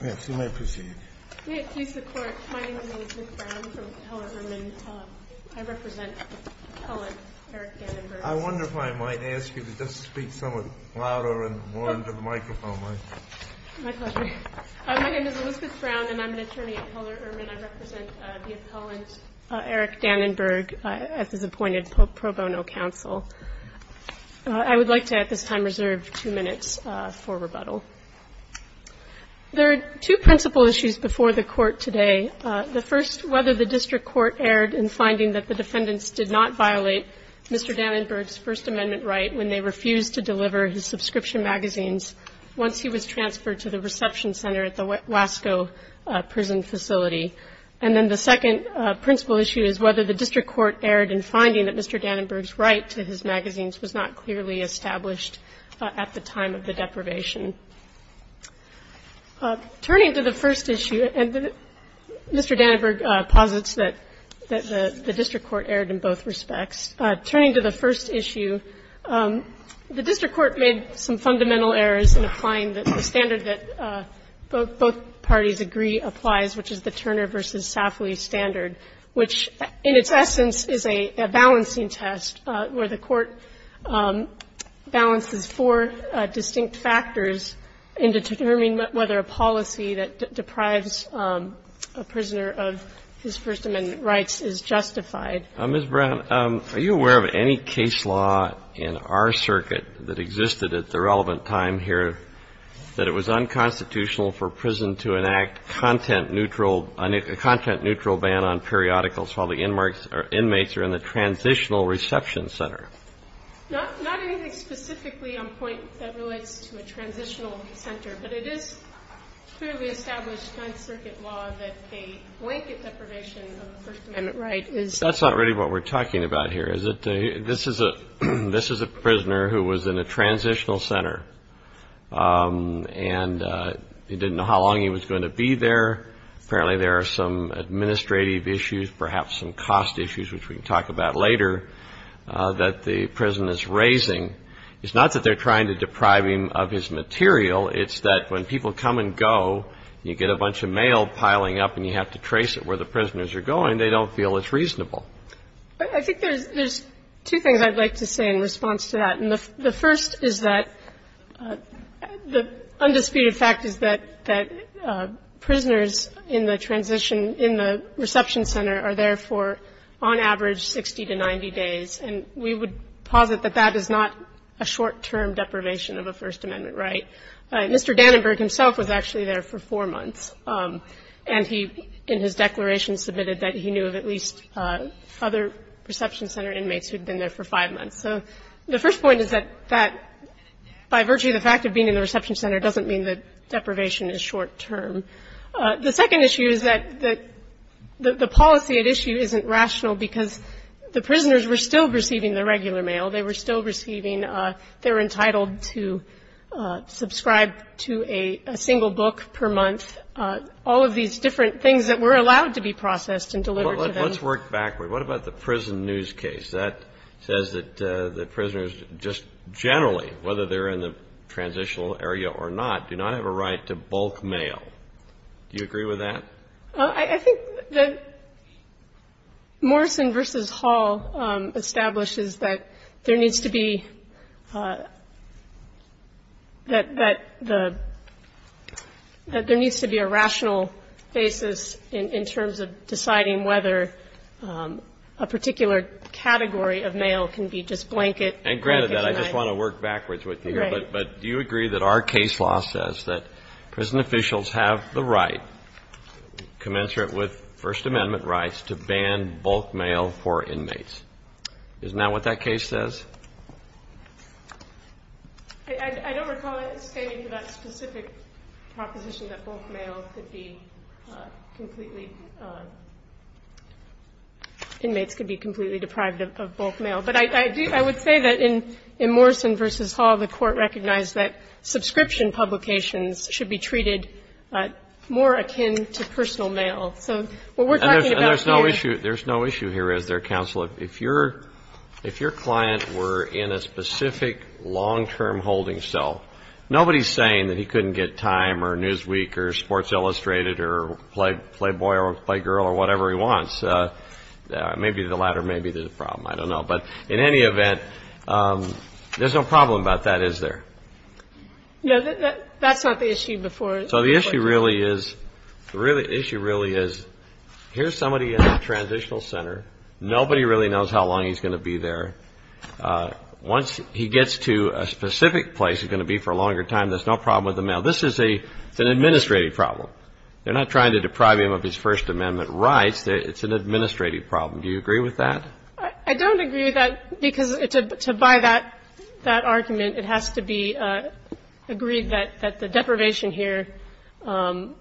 My name is Elizabeth Brown and I'm an attorney at Heller-Urman. I represent the appellant Eric Dannenberg at this appointed pro bono counsel. I would like to at this time reserve two minutes for rebuttal. There are two principal issues before the Court today. The first, whether the district court erred in finding that the defendants did not violate Mr. Dannenberg's First Amendment right when they refused to deliver his subscription magazines once he was transferred to the reception center at the Wasco prison facility. And then the second principal issue is whether the district court erred in finding that Mr. Dannenberg's right to his magazines was not clearly established at the time of the deprivation. Turning to the first issue, and Mr. Dannenberg posits that the district court erred in both respects. Turning to the first issue, the district court made some fundamental errors in applying the standard that both parties agree applies, which is the Turner v. Safley standard, which in its essence is a balancing test where the court balances four distinct factors in determining whether a policy that deprives a prisoner of his First Amendment rights is justified. Mr. Brown, are you aware of any case law in our circuit that existed at the relevant time here that it was unconstitutional for prison to enact a content-neutral ban on periodicals while the inmates are in the transitional reception center? Not anything specifically on point that relates to a transitional center, but it is clearly established by circuit law that a blanket deprivation of the First Amendment right is That's not really what we're talking about here. This is a prisoner who was in a transitional center and he didn't know how long he was going to be there. Apparently there are some administrative issues, perhaps some cost issues, which we can talk about later, that the prison is raising. It's not that they're trying to deprive him of his material, it's that when people come and go, you get a bunch of mail piling up and you have to trace it where the prisoners are going, they don't feel it's reasonable. I think there's two things I'd like to say in response to that. And the first is that the undisputed fact is that prisoners in the transition, in the reception center are there for, on average, 60 to 90 days. And we would posit that that is not a short-term deprivation of a First Amendment right. Mr. Dannenberg himself was actually there for four months. And he, in his declaration, submitted that he knew of at least other reception center inmates who had been there for five months. So the first point is that that, by virtue of the fact of being in the reception center, doesn't mean that deprivation is short-term. The second issue is that the policy at issue isn't rational because the prisoners were still receiving the regular mail, they were still receiving, they were entitled to subscribe to a single book per month, all of these different things that were allowed to be processed and delivered to them. Let's work backward. What about the prison news case? That says that the prisoners just generally, whether they're in the transitional area or not, do not have a right to bulk mail. Do you agree with that? I think that Morrison v. Hall establishes that there needs to be, that there needs to be a rational basis in terms of deciding whether a particular category of mail can be just blanket. And granted that, I just want to work backwards with you. Right. But do you agree that our case law says that prison officials have the right, commensurate with First Amendment rights, to ban bulk mail for inmates? Isn't that what that case says? I don't recall it standing for that specific proposition that bulk mail could be completely, inmates could be completely deprived of bulk mail. But I would say that in Morrison v. Hall, the Court recognized that subscription publications should be treated more akin to personal mail. So what we're talking about here — And there's no issue here, is there, counsel? If your client were in a specific long-term holding cell, nobody's saying that he couldn't get Time or Newsweek or Sports Illustrated or Playboy or Playgirl or whatever he wants. Maybe the latter may be the problem. I don't know. But in any event, there's no problem about that, is there? No, that's not the issue before the Court. So the issue really is, here's somebody in a transitional center. Nobody really knows how long he's going to be there. Once he gets to a specific place he's going to be for a longer time, there's no problem with the mail. This is an administrative problem. They're not trying to deprive him of his First Amendment rights. It's an administrative problem. Do you agree with that? I don't agree with that, because to buy that argument, it has to be agreed that the deprivation here, that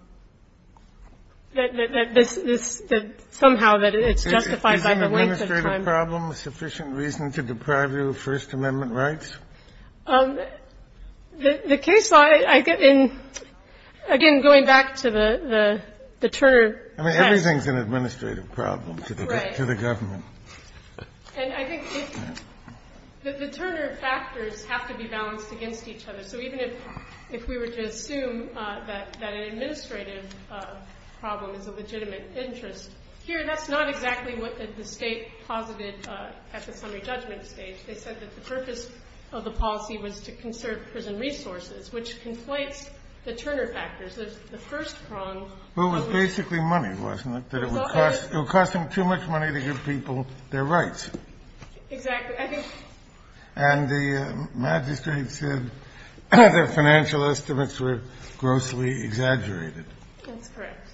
somehow it's justified by the length of time. Is an administrative problem a sufficient reason to deprive you of First Amendment rights? The case law, again, going back to the Turner text — I mean, everything's an administrative problem to the government. Right. And I think the Turner factors have to be balanced against each other. So even if we were to assume that an administrative problem is a legitimate interest, here that's not exactly what the State posited at the summary judgment stage. They said that the purpose of the policy was to conserve prison resources, which conflates the Turner factors. The first prong only — Well, it was basically money, wasn't it? It was costing too much money to give people their rights. Exactly. And the magistrates said their financial estimates were grossly exaggerated. That's correct.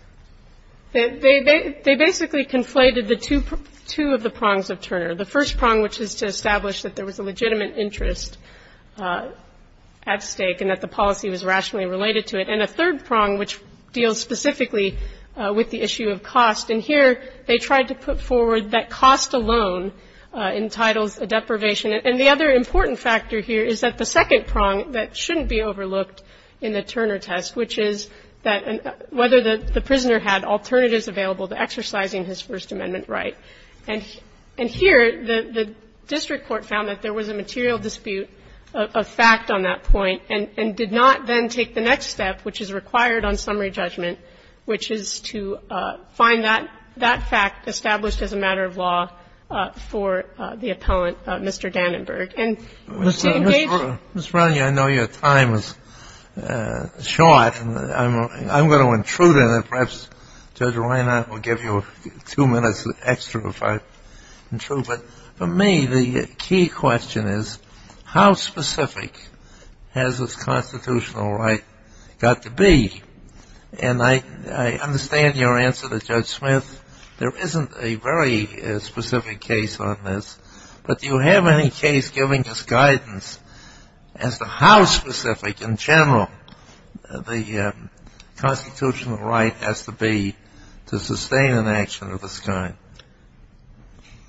They basically conflated the two of the prongs of Turner. The first prong, which is to establish that there was a legitimate interest at stake and that the policy was rationally related to it. And a third prong, which deals specifically with the issue of cost. And here they tried to put forward that cost alone entitles a deprivation. And the other important factor here is that the second prong that shouldn't be overlooked in the Turner test, which is whether the prisoner had alternatives available to exercising his First Amendment right. And here the district court found that there was a material dispute of fact on that point and did not then take the next step, which is required on summary judgment, which is to find that fact established as a matter of law for the appellant, Mr. Dannenberg. And the same case was found. Ms. Brownlee, I know your time is short, and I'm going to intrude on it. Perhaps Judge Reiner will give you two minutes extra if I intrude. But for me, the key question is how specific has this constitutional right got to be? And I understand your answer to Judge Smith. There isn't a very specific case on this. But do you have any case giving us guidance as to how specific in general the constitutional right has to be to sustain an action of this kind?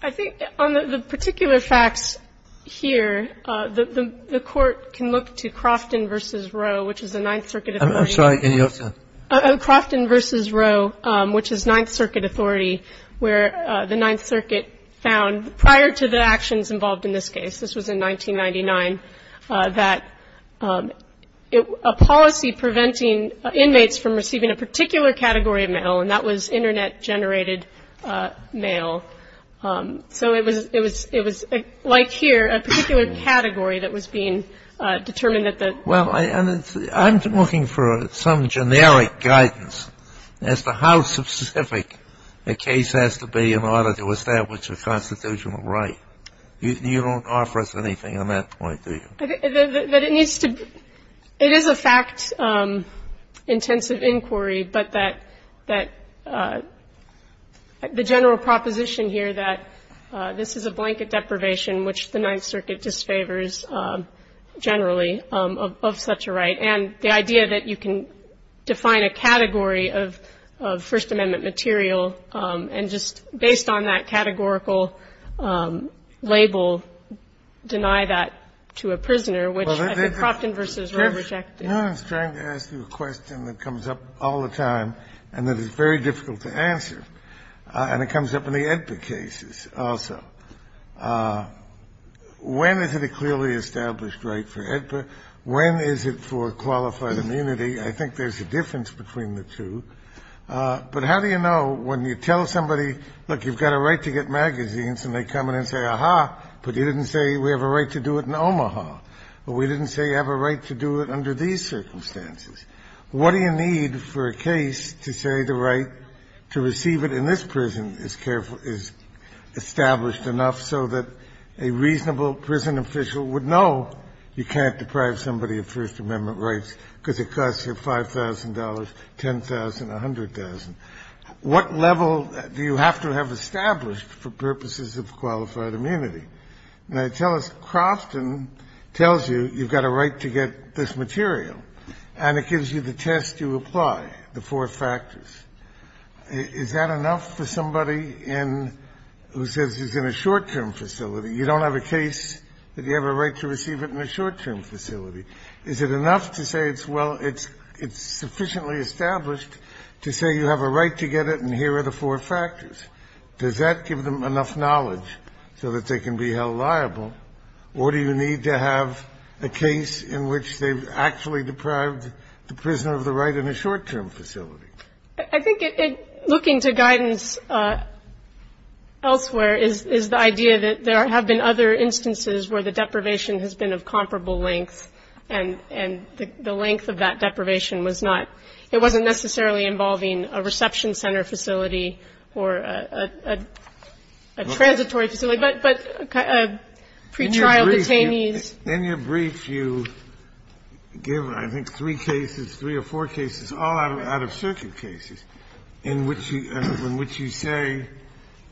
I think on the particular facts here, the Court can look to Crofton v. Roe, which is a Ninth Circuit authority. I'm sorry. Your turn. Crofton v. Roe, which is Ninth Circuit authority, where the Ninth Circuit found prior to the actions involved in this case, this was in 1999, that a policy preventing inmates from receiving a particular category of mail, and that was Internet-generated mail. So it was like here, a particular category that was being determined that the ---- Well, I'm looking for some generic guidance as to how specific a case has to be in order to establish a constitutional right. You don't offer us anything on that point, do you? It is a fact-intensive inquiry, but that the general proposition here that this is a blanket deprivation, which the Ninth Circuit disfavors generally of such a right, and the idea that you can define a category of First Amendment material and just, based on that ---- I'm trying to ask you a question that comes up all the time and that is very difficult to answer, and it comes up in the AEDPA cases also. When is it a clearly established right for AEDPA? When is it for qualified immunity? I think there's a difference between the two. But how do you know when you tell somebody, look, you've got a right to get magazines and they come in and say, ah-ha, but you didn't say we have a right to do it in Omaha, but we didn't say you have a right to do it under these circumstances. What do you need for a case to say the right to receive it in this prison is established enough so that a reasonable prison official would know you can't deprive somebody of First Amendment rights because it costs you $5,000, $10,000, $100,000? What level do you have to have established for purposes of qualified immunity? Now, tell us Crofton tells you you've got a right to get this material and it gives you the test you apply, the four factors. Is that enough for somebody who says he's in a short-term facility? You don't have a case that you have a right to receive it in a short-term facility. Is it enough to say it's sufficiently established to say you have a right to get it and here are the four factors? Does that give them enough knowledge so that they can be held liable? Or do you need to have a case in which they've actually deprived the prisoner of the right in a short-term facility? I think looking to guidance elsewhere is the idea that there have been other instances where the deprivation has been of comparable length and the length of that deprivation was not ñ it wasn't necessarily involving a reception center facility or a transitory facility, but pretrial detainees. In your brief, you give, I think, three cases, three or four cases, all out-of-circuit cases in which you say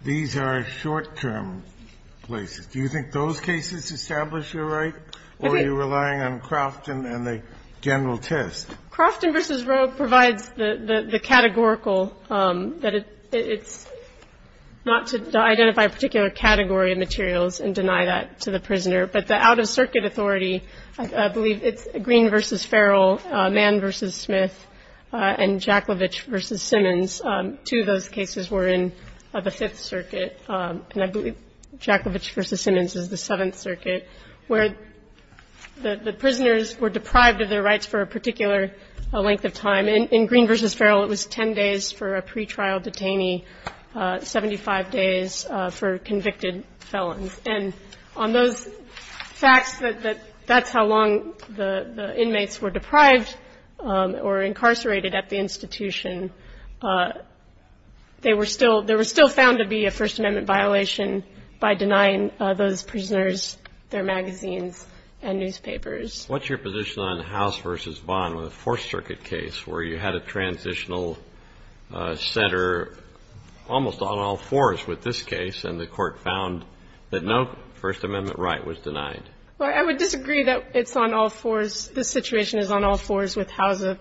these are short-term places. Do you think those cases establish your right? Okay. Or are you relying on Crofton and the general test? Crofton v. Roe provides the categorical that it's not to identify a particular category of materials and deny that to the prisoner. But the out-of-circuit authority, I believe it's Green v. Farrell, Mann v. Smith, and Jacklevich v. Simmons, two of those cases were in the Fifth Circuit. And I believe Jacklevich v. Simmons is the Seventh Circuit, where the prisoners were deprived of their rights for a particular length of time. In Green v. Farrell, it was ten days for a pretrial detainee, 75 days for convicted felons. And on those facts that that's how long the inmates were deprived or incarcerated at the institution, they were still found to be a First Amendment violation by denying those prisoners their magazines and newspapers. What's your position on House v. Bond with the Fourth Circuit case, where you had a transitional center almost on all fours with this case, and the Court found that no First Amendment right was denied? Well, I would disagree that it's on all fours. This situation is on all fours with Housa.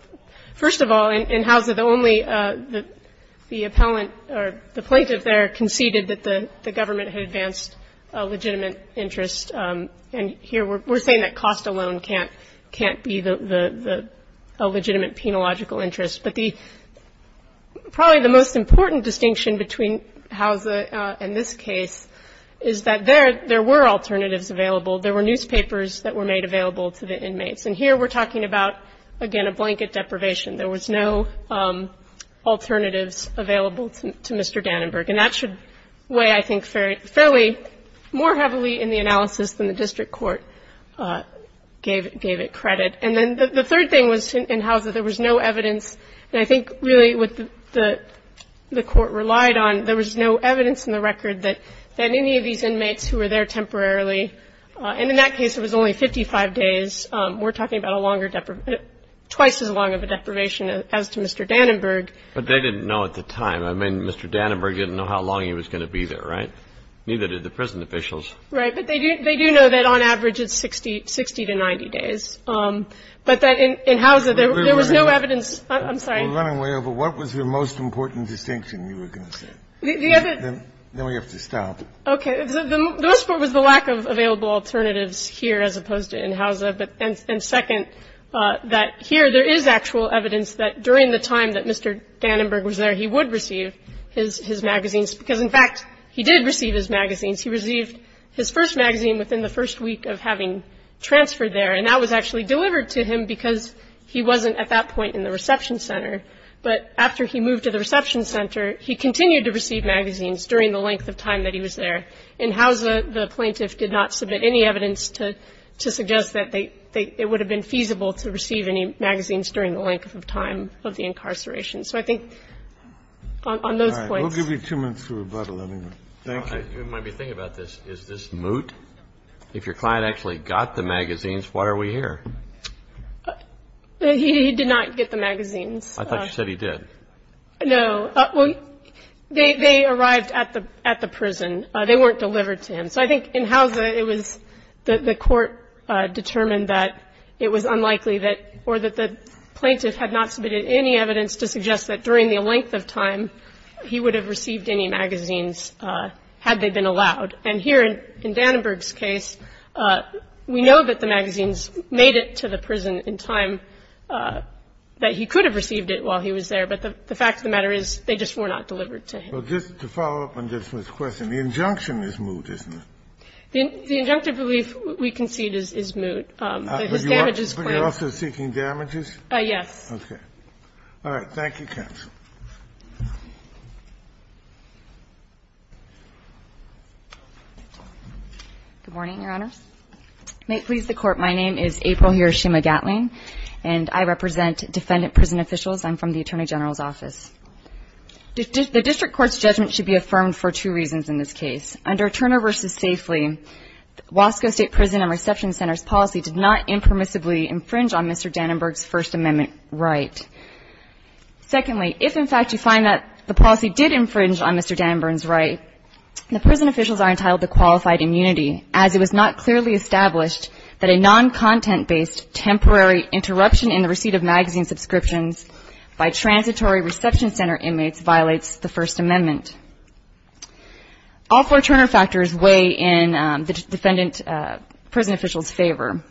First of all, in Housa, the only the appellant or the plaintiff there conceded that the government had advanced a legitimate interest. And here we're saying that cost alone can't be a legitimate penological interest. But probably the most important distinction between Housa and this case is that there were alternatives available. There were newspapers that were made available to the inmates. And here we're talking about, again, a blanket deprivation. There was no alternatives available to Mr. Dannenberg. And that should weigh, I think, fairly more heavily in the analysis than the district court gave it credit. And then the third thing was in Housa, there was no evidence. And I think really what the Court relied on, there was no evidence in the record that any of these inmates who were there temporarily, and in that case it was only 55 days, we're talking about a longer deprivation, twice as long of a deprivation as to Mr. Dannenberg. But they didn't know at the time. I mean, Mr. Dannenberg didn't know how long he was going to be there, right? Neither did the prison officials. Right. But they do know that on average it's 60 to 90 days. But that in Housa, there was no evidence. I'm sorry. We're running way over. What was the most important distinction you were going to say? Then we have to stop. Okay. The most important was the lack of available alternatives here as opposed to in Housa. And second, that here there is actual evidence that during the time that Mr. Dannenberg was there, he would receive his magazines. Because, in fact, he did receive his magazines. He received his first magazine within the first week of having transferred there. And that was actually delivered to him because he wasn't at that point in the reception center. But after he moved to the reception center, he continued to receive magazines during the length of time that he was there. In Housa, the plaintiff did not submit any evidence to suggest that it would have been feasible to receive any magazines during the length of time of the incarceration. So I think on those points. All right. We'll give you two minutes to rebuttal. Thank you. You might be thinking about this. Is this moot? If your client actually got the magazines, why are we here? He did not get the magazines. I thought you said he did. No. Well, they arrived at the prison. They weren't delivered to him. So I think in Housa, it was the court determined that it was unlikely that the plaintiff had not submitted any evidence to suggest that during the length of time he would have received any magazines had they been allowed. And here in Dannenberg's case, we know that the magazines made it to the prison in time that he could have received it while he was there. But the fact of the matter is they just were not delivered to him. Well, just to follow up on this question, the injunction is moot, isn't it? The injunctive belief we concede is moot. But you're also seeking damages? Yes. Okay. All right. Thank you, counsel. Good morning, Your Honors. May it please the Court, my name is April Hiroshima-Gatling, and I represent defendant prison officials. I'm from the Attorney General's office. The district court's judgment should be affirmed for two reasons in this case. Under Turner v. Safely, Wasco State Prison and Reception Center's policy did not impermissibly infringe on Mr. Dannenberg's First Amendment right. Secondly, if in fact you find that the policy did infringe on Mr. Dannenberg's right, the prison officials are entitled to qualified immunity, as it was not clearly established that a non-content-based temporary interruption in the receipt of magazine subscriptions by transitory reception center inmates violates the First Amendment. All four Turner factors weigh in the defendant prison officials' favor.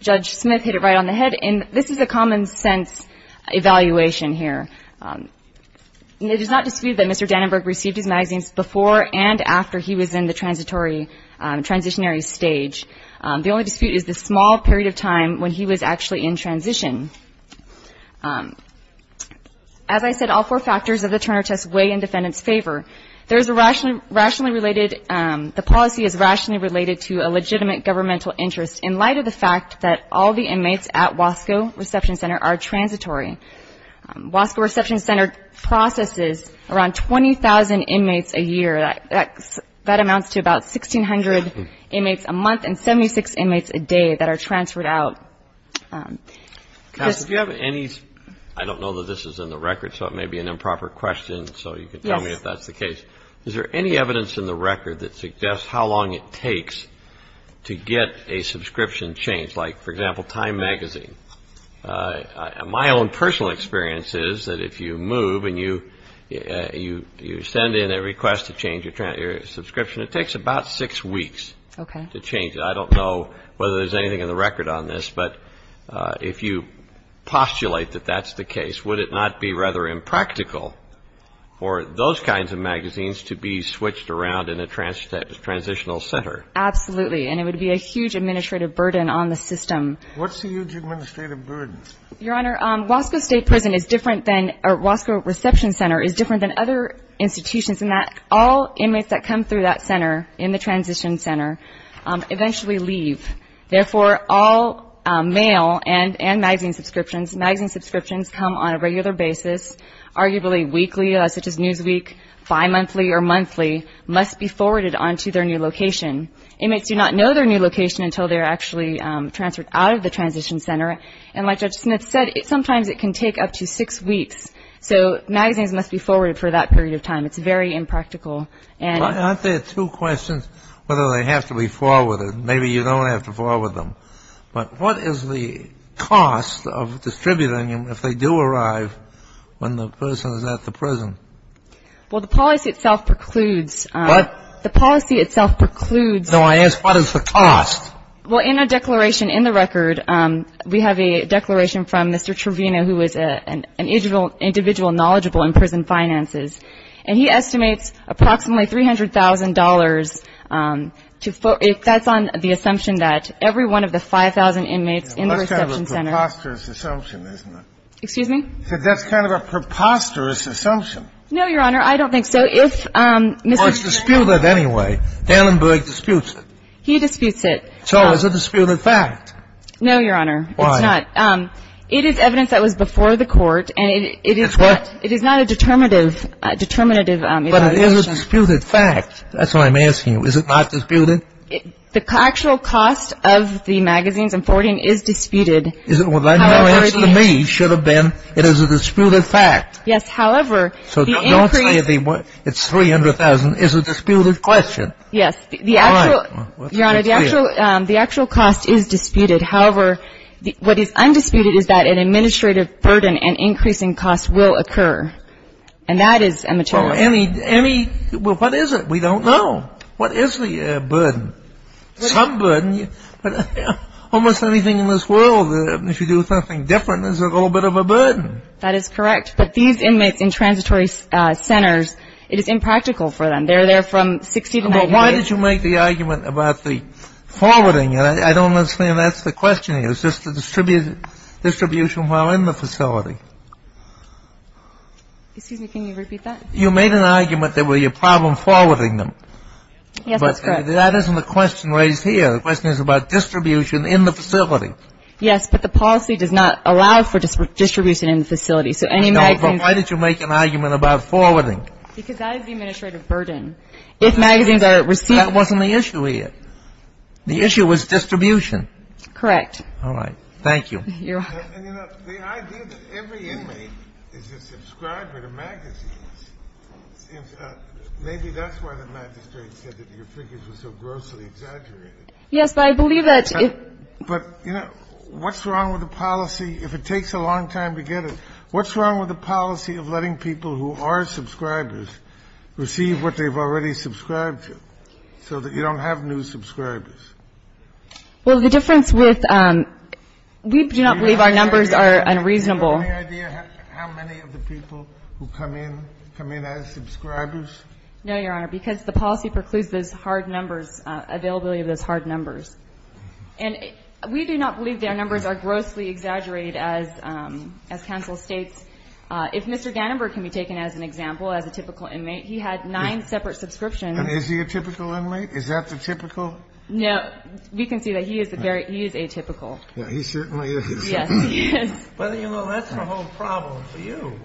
Judge Smith hit it right on the head, and this is a common-sense evaluation here. It is not disputed that Mr. Dannenberg received his magazines before and after he was in the transitory, transitionary stage. The only dispute is the small period of time when he was actually in transition. As I said, all four factors of the Turner test weigh in defendants' favor. The policy is rationally related to a legitimate governmental interest in light of the fact that all the inmates at Wasco Reception Center are transitory. Wasco Reception Center processes around 20,000 inmates a year. That amounts to about 1,600 inmates a month and 76 inmates a day that are transferred out. I don't know that this is in the record, so it may be an improper question, so you can tell me if that's the case. Is there any evidence in the record that suggests how long it takes to get a subscription changed? Like, for example, Time magazine. My own personal experience is that if you move and you send in a request to change your subscription, it takes about six weeks to change it. I don't know whether there's anything in the record on this, but if you postulate that that's the case, would it not be rather impractical for those kinds of magazines to be switched around in a transitional center? Absolutely. And it would be a huge administrative burden on the system. What's the huge administrative burden? Your Honor, Wasco State Prison is different than or Wasco Reception Center is different than other institutions in that all inmates that come through that center, in the transition center, eventually leave. Therefore, all mail and magazine subscriptions, magazine subscriptions come on a regular basis, arguably weekly, such as Newsweek, bimonthly or monthly, must be forwarded on to their new location. Inmates do not know their new location until they're actually transferred out of the transition center. And like Judge Smith said, sometimes it can take up to six weeks. So magazines must be forwarded for that period of time. It's very impractical. Aren't there two questions whether they have to be forwarded? Maybe you don't have to forward them. But what is the cost of distributing them if they do arrive when the person is at the prison? Well, the policy itself precludes. What? The policy itself precludes. No, I asked what is the cost? Well, in our declaration in the record, we have a declaration from Mr. Trevino, who is an individual knowledgeable in prison finances. And he estimates approximately $300,000. That's on the assumption that every one of the 5,000 inmates in the reception center. That's kind of a preposterous assumption, isn't it? Excuse me? He said that's kind of a preposterous assumption. No, Your Honor. I don't think so. If Mr. ---- Well, it's disputed anyway. Dahlenberg disputes it. He disputes it. So it's a disputed fact. No, Your Honor. Why? It's not. It is evidence that was before the Court. And it is not ---- It's what? It is not a determinative evaluation. But it is a disputed fact. That's what I'm asking you. Is it not disputed? The actual cost of the magazines and boarding is disputed. Is it? Well, that answer to me should have been it is a disputed fact. Yes. However, the increase ---- So don't say it's $300,000. It's a disputed question. Yes. The actual ---- All right. Well, let's be clear. Your Honor, the actual cost is disputed. However, what is undisputed is that an administrative burden and increasing cost will occur. And that is a material ---- Well, any ---- well, what is it? We don't know. What is the burden? Some burden. Almost anything in this world, if you do something different, there's a little bit of a burden. That is correct. But these inmates in transitory centers, it is impractical for them. They're there from 60 to 90 days. Well, why did you make the argument about the forwarding? I don't understand. That's the question here. Is this the distribution while in the facility? Excuse me. Can you repeat that? You made an argument that it would be a problem forwarding them. Yes, that's correct. But that isn't the question raised here. The question is about distribution in the facility. Yes. But the policy does not allow for distribution in the facility. So any magazines ---- No, but why did you make an argument about forwarding? Because that is the administrative burden. If magazines are received ---- That wasn't the issue here. The issue was distribution. Correct. All right. Thank you. Your Honor. And, you know, the idea that every inmate is a subscriber to magazines, maybe that's why the magistrate said that your figures were so grossly exaggerated. Yes, but I believe that if ---- But, you know, what's wrong with the policy, if it takes a long time to get it, what's wrong with the policy of letting people who are subscribers receive what they've already subscribed to so that you don't have new subscribers? Well, the difference with ---- We do not believe our numbers are unreasonable. Do you have any idea how many of the people who come in come in as subscribers? No, Your Honor, because the policy precludes those hard numbers, availability of those hard numbers. And we do not believe that our numbers are grossly exaggerated. As counsel states, if Mr. Gannonburg can be taken as an example, as a typical inmate, he had nine separate subscriptions. And is he a typical inmate? Is that the typical? No. We can see that he is the very ---- he is atypical. He certainly is. Yes, he is. But, you know, that's the whole problem for you,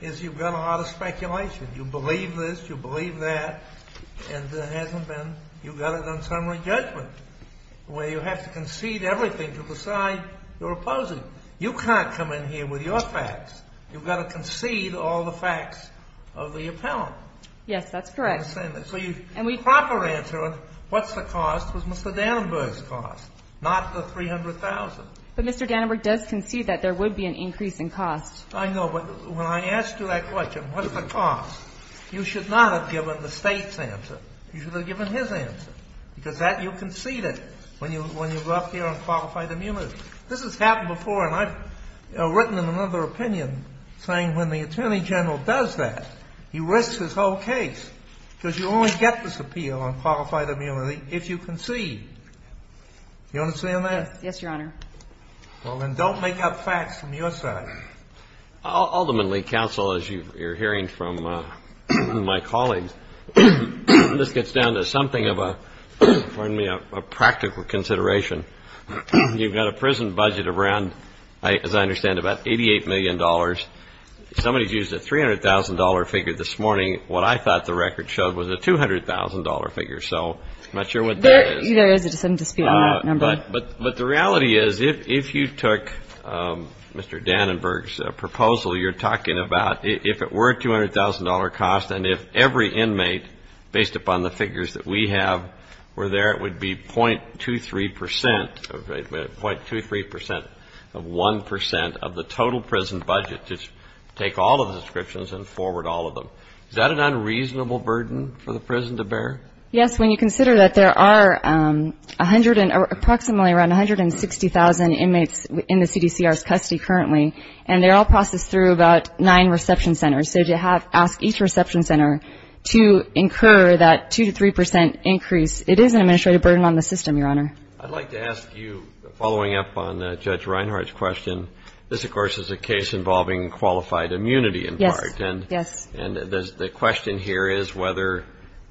is you've got a lot of speculation. You believe this, you believe that, and there hasn't been ---- you've got it on summary judgment, where you have to concede everything to decide your opposing. You can't come in here with your facts. You've got to concede all the facts of the appellant. Yes, that's correct. So your proper answer on what's the cost was Mr. Gannonburg's cost, not the $300,000. But Mr. Gannonburg does concede that there would be an increase in cost. I know. But when I asked you that question, what's the cost, you should not have given the State's answer. You should have given his answer, because that you conceded when you go up here on qualified immunity. This has happened before, and I've written another opinion saying when the Attorney General does that, he risks his whole case, because you only get this appeal on qualified immunity if you concede. You understand that? Yes, Your Honor. Well, then don't make up facts from your side. Ultimately, counsel, as you're hearing from my colleagues, this gets down to something of a, pardon me, a practical consideration. You've got a prison budget of around, as I understand, about $88 million. Somebody's used a $300,000 figure this morning. What I thought the record showed was a $200,000 figure. So I'm not sure what that is. There is a dispute on that number. But the reality is if you took Mr. Gannonburg's proposal, you're talking about if it were a $200,000 cost and if every inmate, based upon the figures that we have, were there, it would be .23% of 1% of the total prison budget to take all of the descriptions and forward all of them. Is that an unreasonable burden for the prison to bear? Yes, when you consider that there are approximately around 160,000 inmates in the CDCR's custody currently, and they're all processed through about nine reception centers. So to ask each reception center to incur that 2% to 3% increase, it is an administrative burden on the system, Your Honor. I'd like to ask you, following up on Judge Reinhart's question, this, of course, is a case involving qualified immunity in part. Yes. And the question here is whether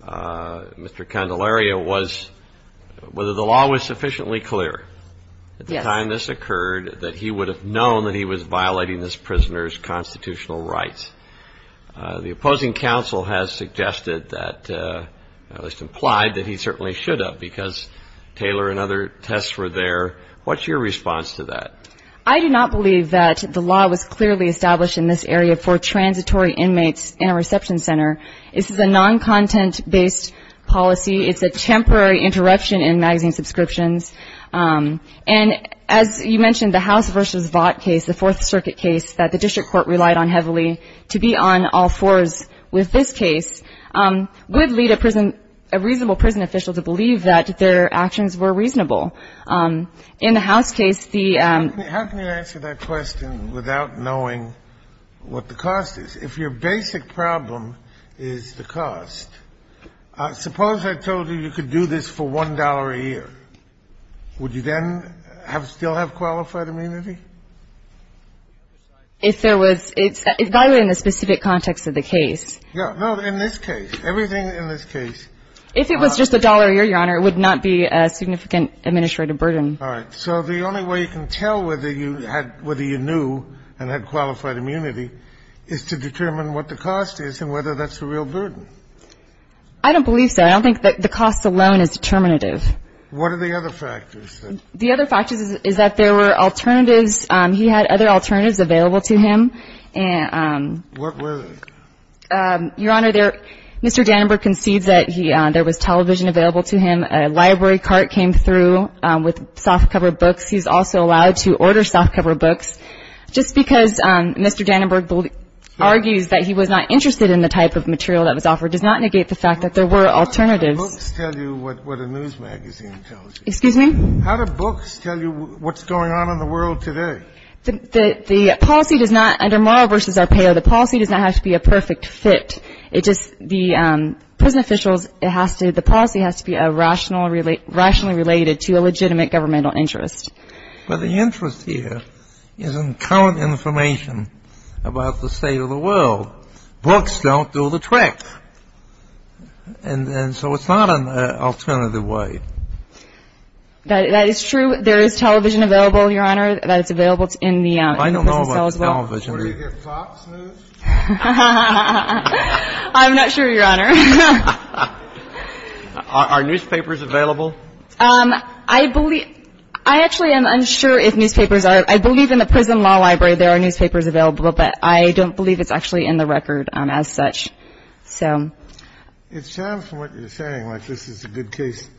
Mr. Candelaria was, whether the law was sufficiently clear at the time this occurred that he would have known that he was violating this prisoner's constitutional rights. The opposing counsel has suggested that, at least implied, that he certainly should have, because Taylor and other tests were there. What's your response to that? I do not believe that the law was clearly established in this area for transitory inmates in a reception center. This is a non-content-based policy. It's a temporary interruption in magazine subscriptions. And as you mentioned, the House v. Vought case, the Fourth Circuit case that the district court relied on heavily to be on all fours with this case would lead a prison, a reasonable prison official to believe that their actions were reasonable. In the House case, the ---- How can you answer that question without knowing what the cost is? If your basic problem is the cost, suppose I told you you could do this for $1 a year. Would you then still have qualified immunity? If there was ---- It's valid in the specific context of the case. No, in this case. Everything in this case. If it was just $1 a year, Your Honor, it would not be a significant administrative burden. All right. So the only way you can tell whether you had ---- whether you knew and had qualified immunity is to determine what the cost is and whether that's a real burden. I don't believe so. I don't think that the cost alone is determinative. What are the other factors? The other factors is that there were alternatives. He had other alternatives available to him. And ---- What were they? Your Honor, there ---- Mr. Danenberg concedes that he ---- there was television available to him. A library cart came through with softcover books. He's also allowed to order softcover books. Just because Mr. Danenberg argues that he was not interested in the type of material that was offered does not negate the fact that there were alternatives. How do books tell you what a news magazine tells you? Excuse me? How do books tell you what's going on in the world today? The policy does not, under Morrill v. Arpaio, the policy does not have to be a perfect fit. It just, the prison officials, it has to, the policy has to be rationally related to a legitimate governmental interest. But the interest here is in current information about the state of the world. Books don't do the trick. And so it's not an alternative way. That is true. There is television available, Your Honor, that is available in the prison cells as well. I don't know about television. Do you get Fox News? I'm not sure, Your Honor. Are newspapers available? I believe, I actually am unsure if newspapers are. I believe in the prison law library there are newspapers available, but I don't believe it's actually in the record as such. So. It sounds from what you're saying like this is a good case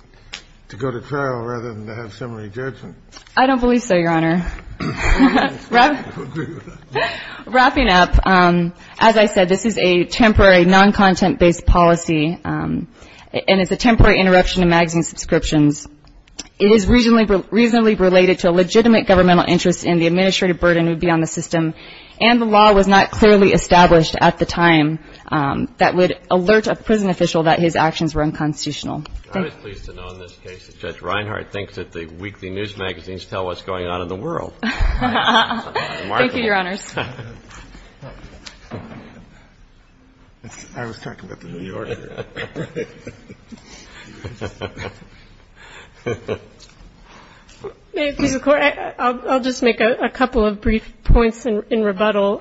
to go to trial rather than to have summary judgment. I don't believe so, Your Honor. Wrapping up, as I said, this is a temporary, non-content-based policy, and it's a temporary interruption of magazine subscriptions. It is reasonably related to a legitimate governmental interest in the administrative burden that would be on the system, and the law was not clearly established at the time that would alert a prison official that his actions were unconstitutional. I was pleased to know in this case that Judge Reinhart thinks that the weekly news magazines tell what's going on in the world. Thank you, Your Honors. I was talking about the New Yorker. May it please the Court, I'll just make a couple of brief points in rebuttal.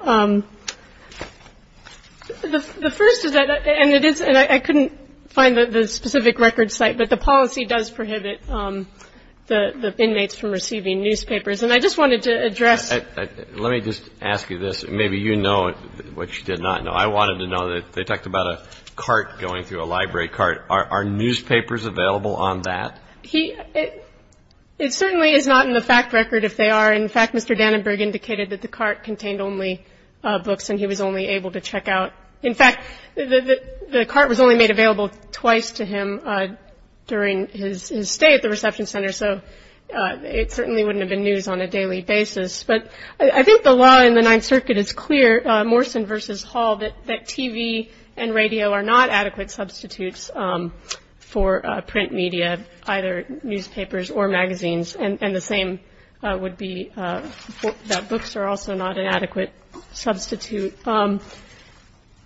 The first is that, and it is, and I couldn't find the specific record site, but the policy does prohibit the inmates from receiving newspapers, and I just wanted to address. Let me just ask you this. Maybe you know what you did not know. I wanted to know, they talked about a cart going through a library cart. Are newspapers available on that? It certainly is not in the fact record if they are. In fact, Mr. Dannenberg indicated that the cart contained only books and he was only able to check out. In fact, the cart was only made available twice to him during his stay at the reception center, so it certainly wouldn't have been news on a daily basis. But I think the law in the Ninth Circuit is clear, Morrison versus Hall, that TV and radio are not adequate substitutes for print media, either newspapers or magazines, and the same would be that books are also not an adequate substitute.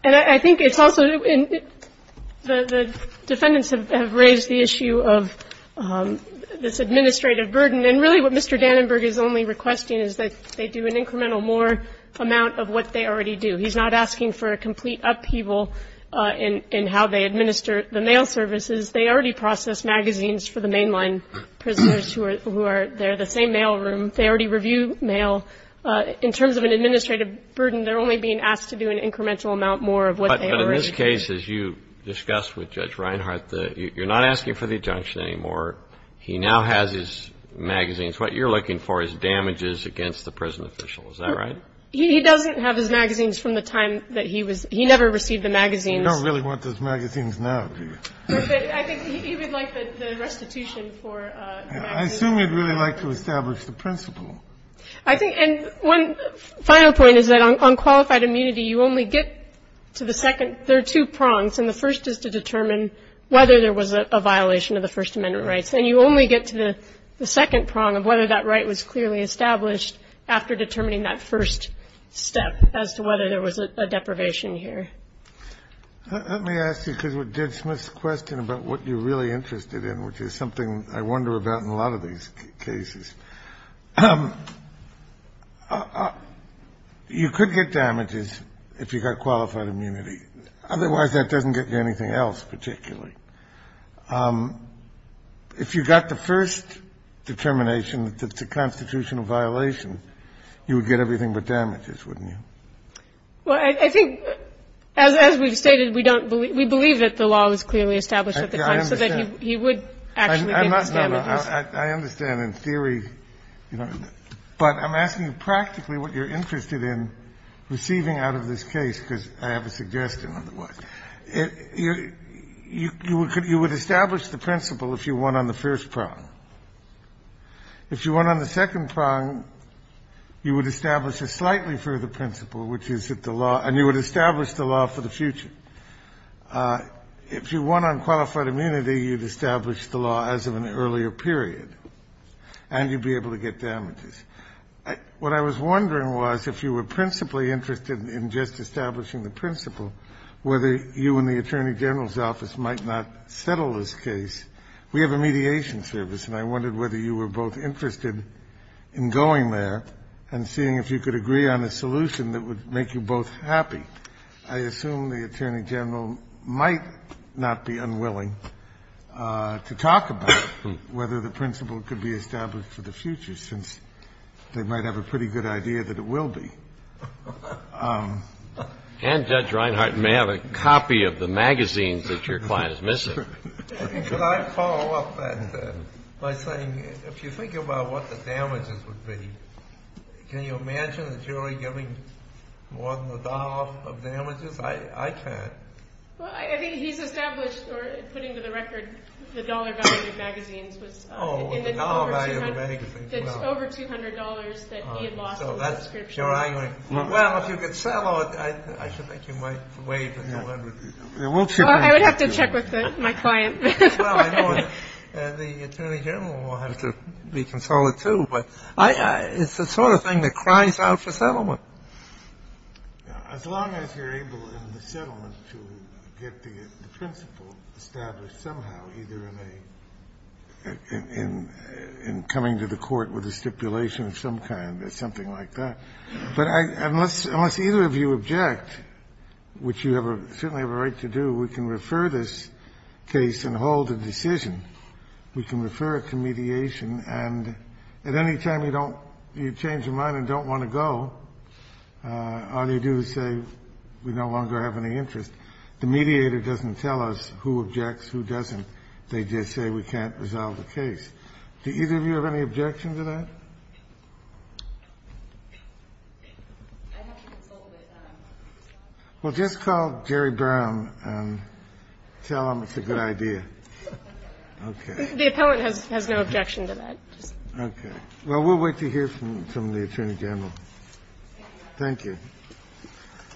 And I think it's also the defendants have raised the issue of this administrative burden, and really what Mr. Dannenberg is only requesting is that they do an incremental more amount of what they already do. He's not asking for a complete upheaval in how they administer the mail services. They already process magazines for the mainline prisoners who are there, the same mail room. They already review mail. In terms of an administrative burden, they're only being asked to do an incremental amount more of what they already do. But in this case, as you discussed with Judge Reinhart, you're not asking for the adjunction anymore. He now has his magazines. What you're looking for is damages against the prison official. Is that right? He doesn't have his magazines from the time that he was – he never received the magazines. You don't really want those magazines now, do you? No, but I think he would like the restitution for the magazines. I assume he'd really like to establish the principle. I think – and one final point is that on qualified immunity, you only get to the second – there are two prongs. And the first is to determine whether there was a violation of the First Amendment rights. And you only get to the second prong of whether that right was clearly established after determining that first step as to whether there was a deprivation here. Let me ask you, because of Judge Smith's question about what you're really interested in, which is something I wonder about in a lot of these cases. You could get damages if you got qualified immunity. Otherwise, that doesn't get you anything else particularly. If you got the first determination that it's a constitutional violation, you would get everything but damages, wouldn't you? Well, I think, as we've stated, we don't – we believe that the law was clearly established at the time so that he would actually get his damages. I'm not – no, no. I understand, in theory. But I'm asking practically what you're interested in receiving out of this case, because I have a suggestion otherwise. You would establish the principle if you won on the first prong. If you won on the second prong, you would establish a slightly further principle, which is that the law – and you would establish the law for the future. If you won on qualified immunity, you'd establish the law as of an earlier period, and you'd be able to get damages. What I was wondering was, if you were principally interested in just establishing the principle, whether you and the attorney general's office might not settle this case. We have a mediation service, and I wondered whether you were both interested in going there and seeing if you could agree on a solution that would make you both happy. I assume the attorney general might not be unwilling to talk about whether the principle could be established for the future, since they might have a pretty good idea that it will be. And Judge Reinhart may have a copy of the magazines that your client is missing. Could I follow up that by saying, if you think about what the damages would be, can you imagine the jury giving more than a dollar of damages? I can't. Well, I think he's established, or putting to the record, the dollar value of the magazines was over $200 that he had lost in that description. Well, if you could settle it, I should think you might waive the $200. I would have to check with my client. Well, I know the attorney general will have to be consoled, too. But it's the sort of thing that cries out for settlement. As long as you're able in the settlement to get the principle established somehow, either in a, in coming to the court with a stipulation of some kind or something like that. But unless either of you object, which you certainly have a right to do, we can refer this case and hold a decision. We can refer it to mediation. And at any time you don't, you change your mind and don't want to go, all you do is say we no longer have any interest. The mediator doesn't tell us who objects, who doesn't. They just say we can't resolve the case. Do either of you have any objection to that? Well, just call Jerry Brown and tell him it's a good idea. Okay. The appellant has no objection to that. Okay. Well, we'll wait to hear from the attorney general. Thank you.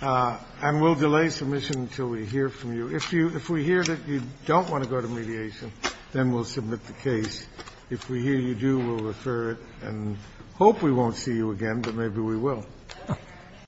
And we'll delay submission until we hear from you. If we hear that you don't want to go to mediation, then we'll submit the case. If we hear you do, we'll refer it and hope we won't see you again, but maybe we will.